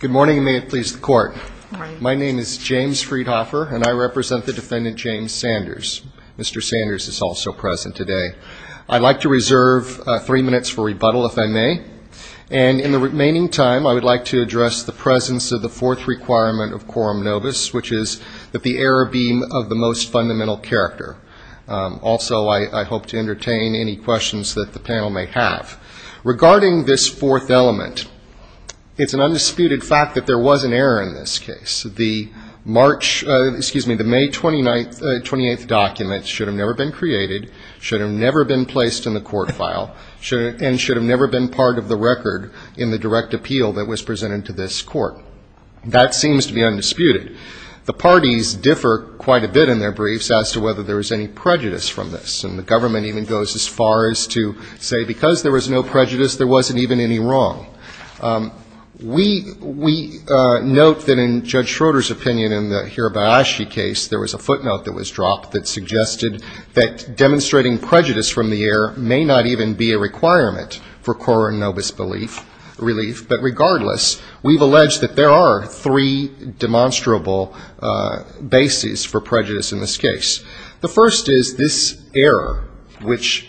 Good morning, and may it please the Court. My name is James Friedhofer, and I represent the defendant James Sanders. Mr. Sanders is also present today. I'd like to reserve three minutes for rebuttal, if I may. And in the remaining time, I would like to address the presence of the fourth requirement of quorum novus, which is that the error be of the most fundamental character. Also, I hope to entertain any questions that the panel may have. Regarding this fourth element, it's an undisputed fact that there was an error in this case. The March, excuse me, the May 29th, 28th document should have never been created, should have never been placed in the court file, and should have never been part of the record in the direct appeal that was presented to this Court. That seems to be undisputed. The parties differ quite a bit in their briefs as to whether there was any prejudice from this. And the government even goes as far as to say because there was no prejudice, there wasn't even any wrong. We note that in Judge Schroeder's opinion in the Hirabayashi case, there was a footnote that was dropped that suggested that demonstrating prejudice from the error may not even be a requirement for quorum novus belief, relief. But regardless, we've alleged that there are three demonstrable bases for prejudice in this case. The first is this error, which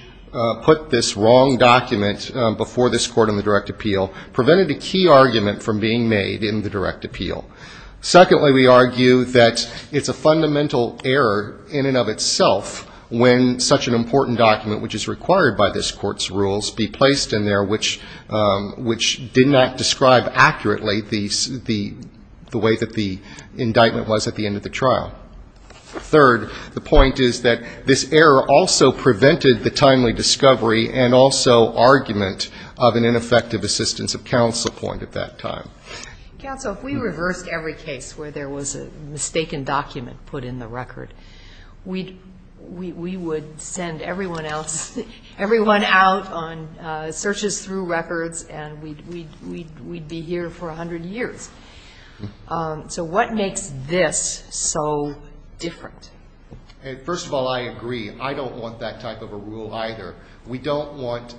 put this wrong document before this Court in the direct appeal, prevented a key argument from being made in the direct appeal. Secondly, we argue that it's a fundamental error in and of itself when such an important document, which is required by this Court's rules, be placed in there which did not describe accurately the way that the indictment was at the end of the trial. Third, the point is that this error also prevented the timely discovery and also argument of an ineffective assistance of counsel point at that time. Counsel, if we reversed every case where there was a mistaken document put in the record, we would send everyone else, everyone out on searches through records and we'd be here for 100 years. So what makes this so different? First of all, I agree. I don't want that type of a rule either. We don't want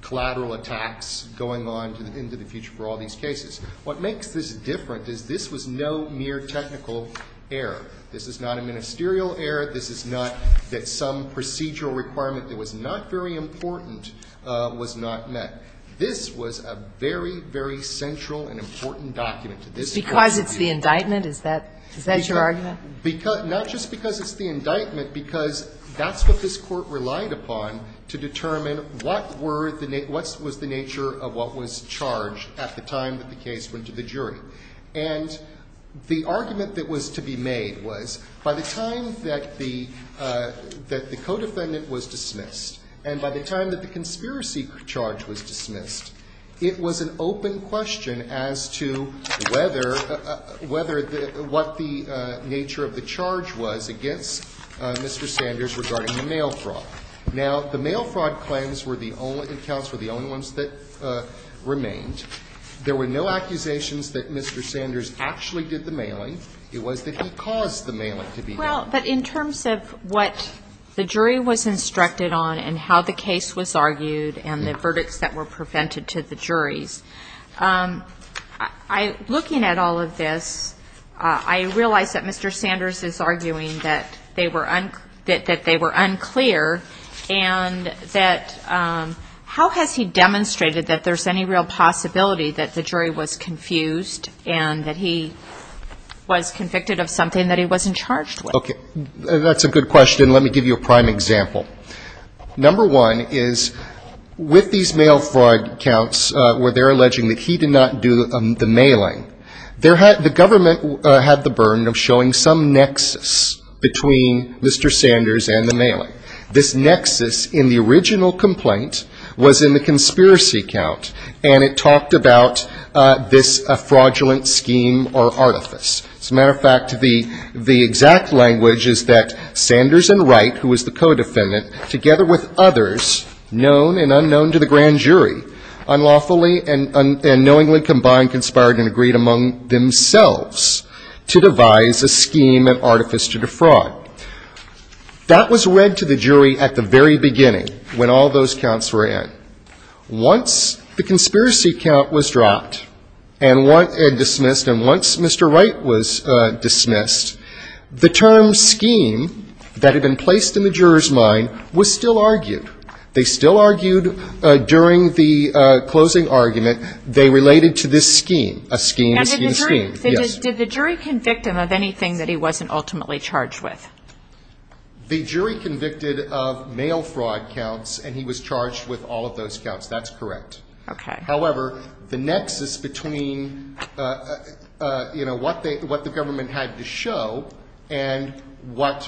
collateral attacks going on into the future for all these cases. What makes this different is this was no mere technical error. This is not a ministerial error. This is not that some procedural requirement that was not very important was not met. This was a very, very central and important document to this Court's review. Because it's the indictment? Is that your argument? Not just because it's the indictment, because that's what this Court relied upon to determine what was the nature of what was charged at the time that the case went to the jury. And the argument that was to be made was by the time that the co-defendant was dismissed and by the time that the conspiracy charge was dismissed, it was an open question as to whether what the nature of the charge was against Mr. Sanders regarding the mail fraud. Now, the mail fraud claims were the only accounts, were the only ones that remained. There were no accusations that Mr. Sanders actually did the mailing. It was that he caused the mailing to be done. Well, but in terms of what the jury was instructed on and how the case was argued and the verdicts that were prevented to the juries, looking at all of this, I realize that Mr. Sanders is arguing that they were unclear and that how has he demonstrated that there's any real possibility that the jury was confused and that he was convicted of something that he wasn't charged with? Okay. That's a good question. Let me give you a prime example. Number one is with these mail fraud counts where they're alleging that he did not do the mailing, there had the government had the burden of showing some nexus between Mr. Sanders and the mailing. This nexus in the original complaint was in the conspiracy count, and it talked about this fraudulent scheme or artifice. As a matter of fact, the exact language is that Sanders and Wright, who was the co-defendant, together with others known and unknown to the grand jury, unlawfully and knowingly combined, conspired and agreed among themselves to devise a scheme and artifice to defraud. That was read to the jury at the very beginning when all those counts were in. Once the conspiracy count was dropped and dismissed and once Mr. Wright was dismissed, the term scheme that had been placed in the juror's mind was still argued. They still argued during the closing argument. They related to this scheme, a scheme, a scheme, a scheme. Yes. Did the jury convict him of anything that he wasn't ultimately charged with? The jury convicted of mail fraud counts, and he was charged with all of those counts. That's correct. Okay. However, the nexus between, you know, what the government had to show and what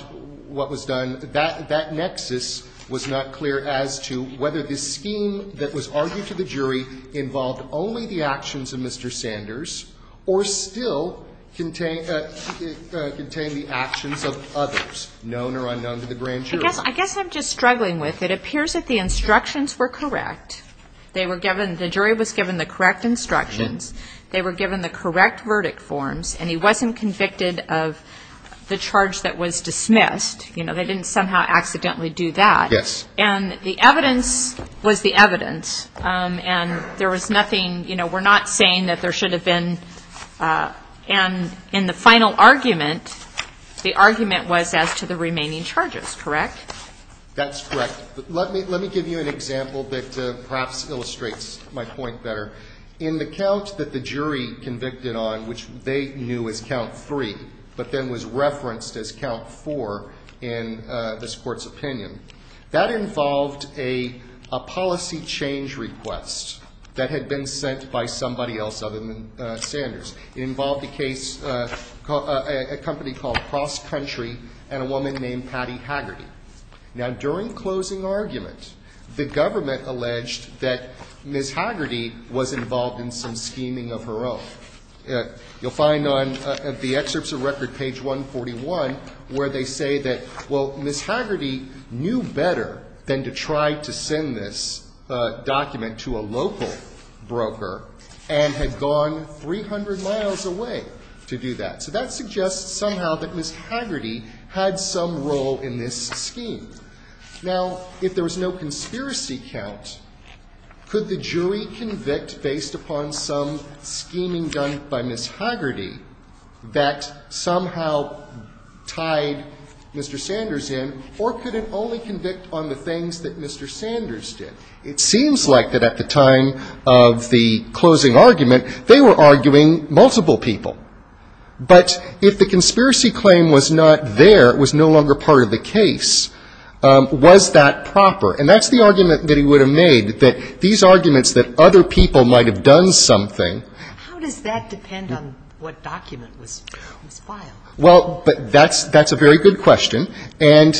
was done, that nexus was not clear as to whether the scheme that was argued to the jury involved only the actions of Mr. Sanders or still contained the actions of others known or unknown to the grand jury. I guess I'm just struggling with it. It appears that the instructions were correct. They were given, the jury was given the correct instructions. They were given the correct verdict forms, and he wasn't convicted of the charge that was dismissed. You know, they didn't somehow accidentally do that. Yes. And the evidence was the evidence. And there was nothing, you know, we're not saying that there should have been, and in the final argument, the argument was as to the remaining charges, correct? That's correct. Let me give you an example that perhaps illustrates my point better. In the count that the jury convicted on, which they knew was count three, but then was referenced as count four in this Court's opinion, that involved a policy change request that had been sent by somebody else other than Sanders. It involved a case, a company called Cross Country and a woman named Patty Haggerty. Now, during closing argument, the government alleged that Ms. Haggerty was involved in some scheming of her own. You'll find on the excerpts of record, page 141, where they say that, well, Ms. Haggerty knew better than to try to send this document to a local broker and had gone 300 miles away to do that. So that suggests somehow that Ms. Haggerty had some role in this scheme. Now, if there was no conspiracy count, could the jury convict, based upon some scheming done by Ms. Haggerty, that somehow tied Mr. Sanders in, or could it only convict on the things that Mr. Sanders did? It seems like that at the time of the closing argument, they were arguing multiple people. But if the conspiracy claim was not there, it was no longer part of the case, was that proper? And that's the argument that he would have made, that these arguments that other people might have done something. How does that depend on what document was filed? Well, that's a very good question. And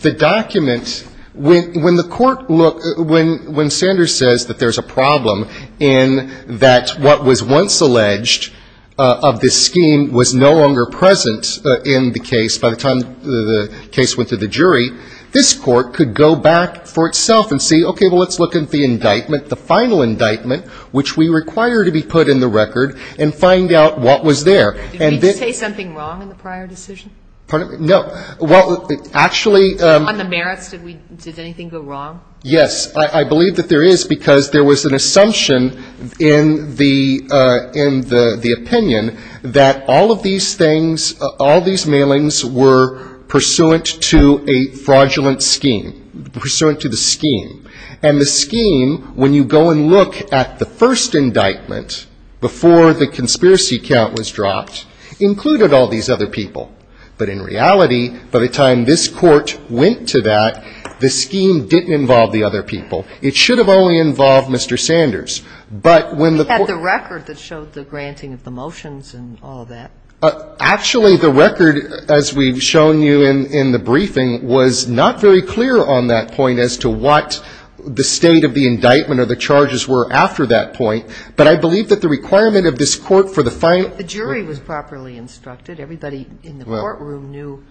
the document, when the court looked, when Sanders says that there's a problem in that what was once alleged of this scheme was no longer present in the case by the time the case went to the jury, this court could go back for itself and say, okay, well, let's look at the indictment, the final indictment, which we require to be put in the record, and find out what was there. Did we say something wrong in the prior decision? Pardon me? No. Well, actually the merits, did we, did anything go wrong? Yes. I believe that there is, because there was an assumption in the opinion that all of these things, all these mailings were pursuant to a fraudulent scheme, pursuant to the scheme. And the scheme, when you go and look at the first indictment before the conspiracy count was dropped, included all these other people. But in reality, by the time this court went to that, the scheme didn't involve the other people. It should have only involved Mr. Sanders. But when the court ---- We had the record that showed the granting of the motions and all of that. Actually, the record, as we've shown you in the briefing, was not very clear on that the state of the indictment or the charges were after that point. But I believe that the requirement of this court for the final ---- But the jury was properly instructed. Everybody in the courtroom knew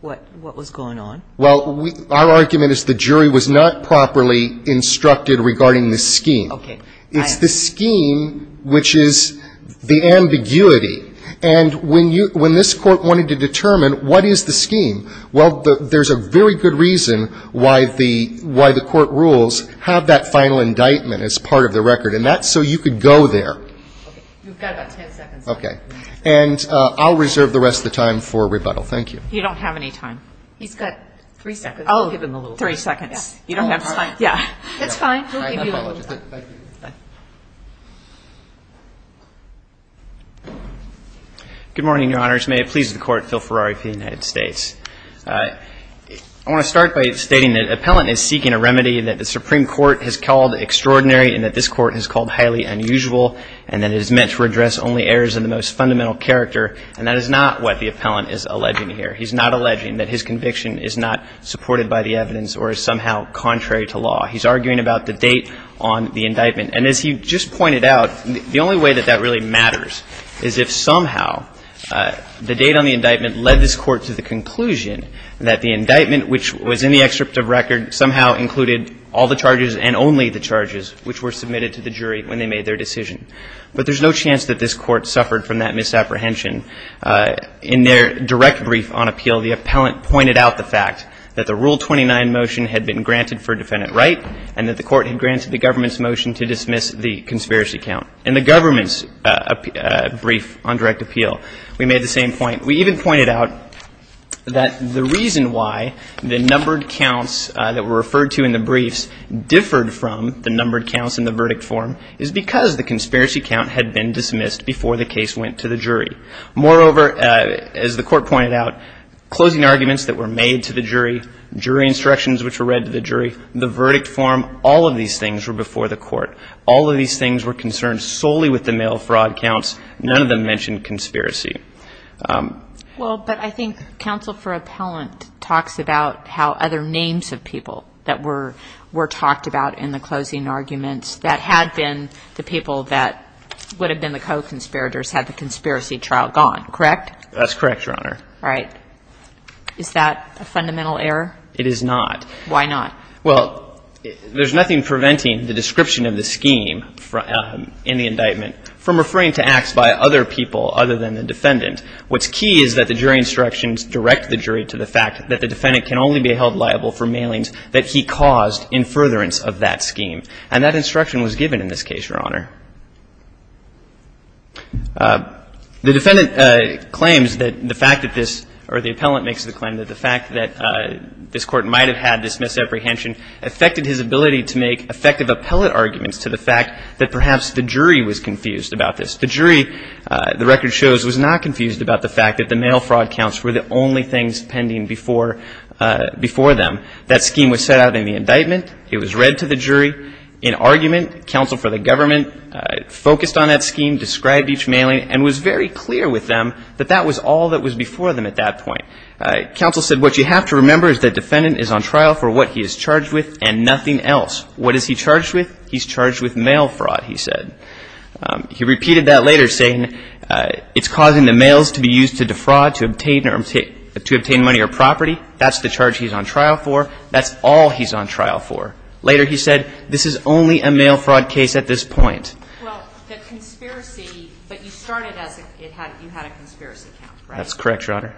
what was going on. Well, our argument is the jury was not properly instructed regarding the scheme. Okay. It's the scheme which is the ambiguity. And when this court wanted to determine what is the scheme, well, there's a very good reason why the court rules have that final indictment as part of the record. And that's so you could go there. Okay. You've got about ten seconds. Okay. And I'll reserve the rest of the time for rebuttal. Thank you. You don't have any time. He's got three seconds. I'll give him a little time. Three seconds. You don't have ---- It's fine. It's fine. He'll give you a little time. Thank you. Good morning, Your Honors. May it please the Court, Phil Ferrari for the United States. I want to start by stating that Appellant is seeking a remedy that the Supreme Court has called extraordinary and that this Court has called highly unusual and that it is meant to address only errors in the most fundamental character. And that is not what the Appellant is alleging here. He's not alleging that his conviction is not supported by the evidence or is somehow contrary to law. He's arguing about the date on the indictment. And as he just pointed out, the only way that that really matters is if somehow the date on the indictment led this Court to the conclusion that the indictment, which was in the excerpt of record, somehow included all the charges and only the charges which were submitted to the jury when they made their decision. But there's no chance that this Court suffered from that misapprehension. In their direct brief on appeal, the Appellant pointed out the fact that the Rule 29 motion had been granted for defendant right and that the Court had granted the government's motion to dismiss the conspiracy count. In the government's brief on direct appeal, we made the same point. We even pointed out that the reason why the numbered counts that were referred to in the briefs differed from the numbered counts in the verdict form is because the conspiracy count had been dismissed before the case went to the jury. Moreover, as the Court pointed out, closing arguments that were made to the jury, jury instructions which were read to the jury, the verdict form, all of these things were before the Court. All of these things were concerned solely with the mail fraud counts. None of them mentioned conspiracy. Well, but I think Counsel for Appellant talks about how other names of people that were talked about in the closing arguments that had been the people that would have been the co-conspirators had the conspiracy trial gone. Correct? That's correct, Your Honor. All right. Is that a fundamental error? It is not. Why not? Well, there's nothing preventing the description of the scheme in the indictment from referring to acts by other people other than the defendant. What's key is that the jury instructions direct the jury to the fact that the defendant can only be held liable for mailings that he caused in furtherance of that scheme. And that instruction was given in this case, Your Honor. The defendant claims that the fact that this or the appellant makes the claim that this Court might have had this misapprehension affected his ability to make effective appellate arguments to the fact that perhaps the jury was confused about this. The jury, the record shows, was not confused about the fact that the mail fraud counts were the only things pending before them. That scheme was set out in the indictment. It was read to the jury in argument. Counsel for the Government focused on that scheme, described each mailing, and was very clear with them that that was all that was before them at that point. Counsel said, What you have to remember is that defendant is on trial for what he is charged with and nothing else. What is he charged with? He's charged with mail fraud, he said. He repeated that later, saying, It's causing the mails to be used to defraud to obtain money or property. That's the charge he's on trial for. That's all he's on trial for. Later he said, This is only a mail fraud case at this point. Well, the conspiracy, but you started as you had a conspiracy count, right? That's correct, Your Honor.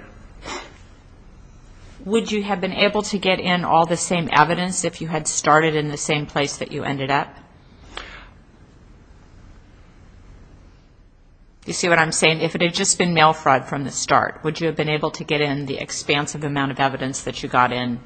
Would you have been able to get in all the same evidence if you had started in the same place that you ended up? You see what I'm saying? If it had just been mail fraud from the start, would you have been able to get in the expansive amount of evidence that you got in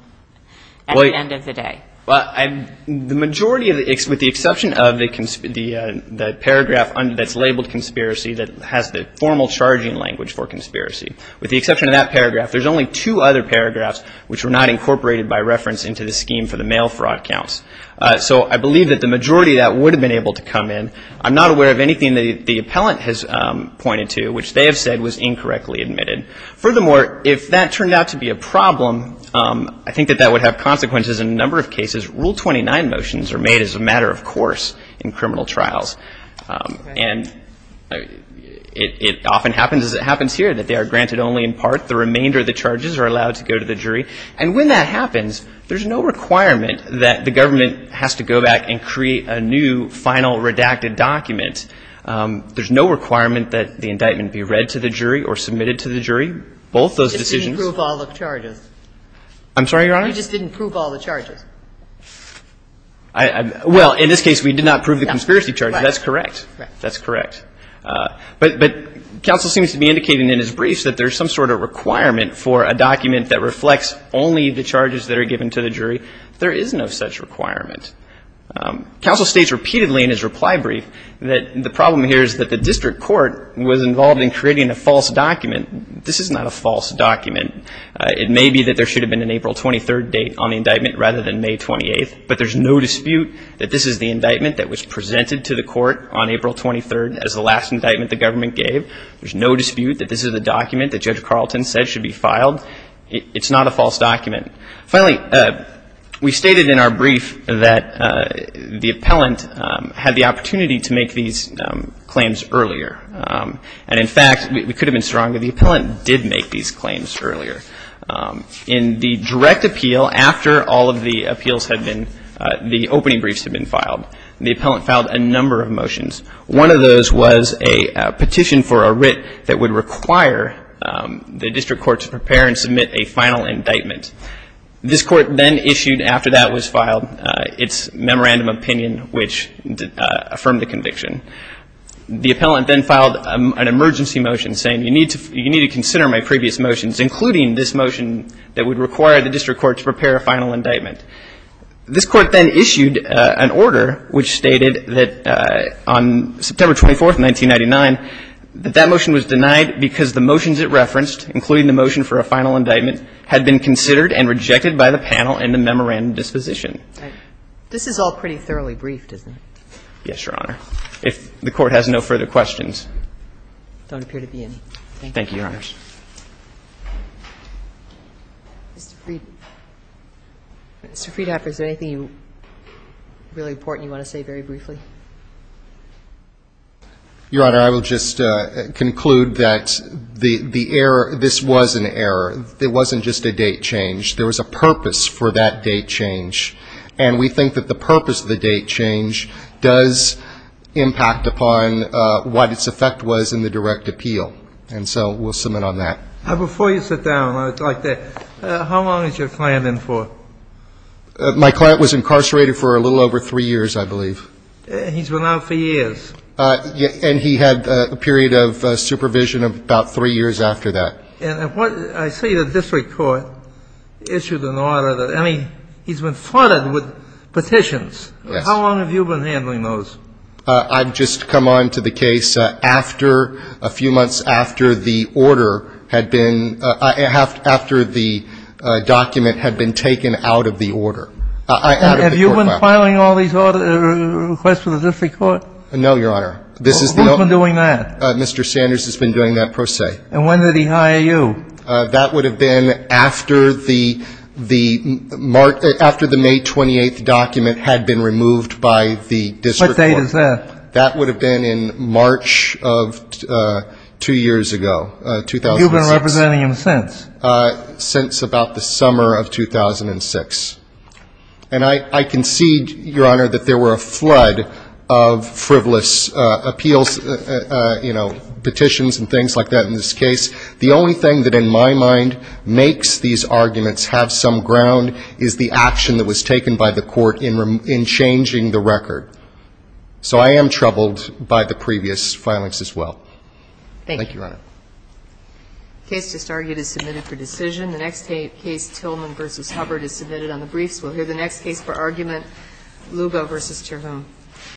at the end of the day? The majority of the, with the exception of the paragraph that's labeled conspiracy that has the formal charging language for conspiracy. With the exception of that paragraph, there's only two other paragraphs which were not incorporated by reference into the scheme for the mail fraud counts. So I believe that the majority of that would have been able to come in. I'm not aware of anything that the appellant has pointed to, which they have said was incorrectly admitted. Furthermore, if that turned out to be a problem, I think that that would have consequences in a number of cases. Rule 29 motions are made as a matter of course in criminal trials. And it often happens, as it happens here, that they are granted only in part. The remainder of the charges are allowed to go to the jury. And when that happens, there's no requirement that the government has to go back and create a new final redacted document. There's no requirement that the indictment be read to the jury or submitted to the jury, both those decisions. You just didn't prove all the charges. I'm sorry, Your Honor? You just didn't prove all the charges. Well, in this case, we did not prove the conspiracy charges. That's correct. That's correct. But counsel seems to be indicating in his briefs that there's some sort of requirement for a document that reflects only the charges that are given to the jury. There is no such requirement. Counsel states repeatedly in his reply brief that the problem here is that the district court was involved in creating a false document. This is not a false document. It may be that there should have been an April 23rd date on the indictment rather than May 28th, but there's no dispute that this is the indictment that was presented to the court on April 23rd as the last indictment the government gave. There's no dispute that this is a document that Judge Carlton said should be filed. It's not a false document. Finally, we stated in our brief that the appellant had the opportunity to make these claims earlier. And, in fact, we could have been stronger. The appellant did make these claims earlier. In the direct appeal, after all of the appeals had been, the opening briefs had been filed, the appellant filed a number of motions. One of those was a petition for a writ that would require the district court to prepare and submit a final indictment. This court then issued, after that was filed, its memorandum of opinion, which affirmed the conviction. The appellant then filed an emergency motion saying, you need to consider my previous motions, including this motion that would require the district court to prepare a final indictment. This court then issued an order which stated that on September 24th, 1999, that that motion was denied because the motions it referenced, including the motion for a final indictment, had been considered and rejected by the panel and the memorandum disposition. This is all pretty thoroughly briefed, isn't it? Yes, Your Honor. If the court has no further questions. There don't appear to be any. Thank you, Your Honors. Mr. Friedhofer, is there anything really important you want to say very briefly? Your Honor, I will just conclude that the error, this was an error. It wasn't just a date change. There was a purpose for that date change. And we think that the purpose of the date change does impact upon what its effect was in the direct appeal. And so we'll submit on that. Before you sit down, I'd like to ask, how long is your client in for? My client was incarcerated for a little over three years, I believe. He's been out for years. And he had a period of supervision of about three years after that. And I see the district court issued an order. I mean, he's been flooded with petitions. Yes. How long have you been handling those? I've just come on to the case after, a few months after the order had been, after the document had been taken out of the order. Have you been filing all these requests for the district court? No, Your Honor. Who's been doing that? Mr. Sanders has been doing that, per se. And when did he hire you? That would have been after the May 28th document had been removed by the district court. What date is that? That would have been in March of two years ago, 2006. You've been representing him since? Since about the summer of 2006. And I concede, Your Honor, that there were a flood of frivolous appeals, you know, petitions and things like that in this case. The only thing that in my mind makes these arguments have some ground is the action that was taken by the court in changing the record. So I am troubled by the previous filings as well. Thank you, Your Honor. The case just argued is submitted for decision. The next case, Tillman v. Hubbard, is submitted on the briefs.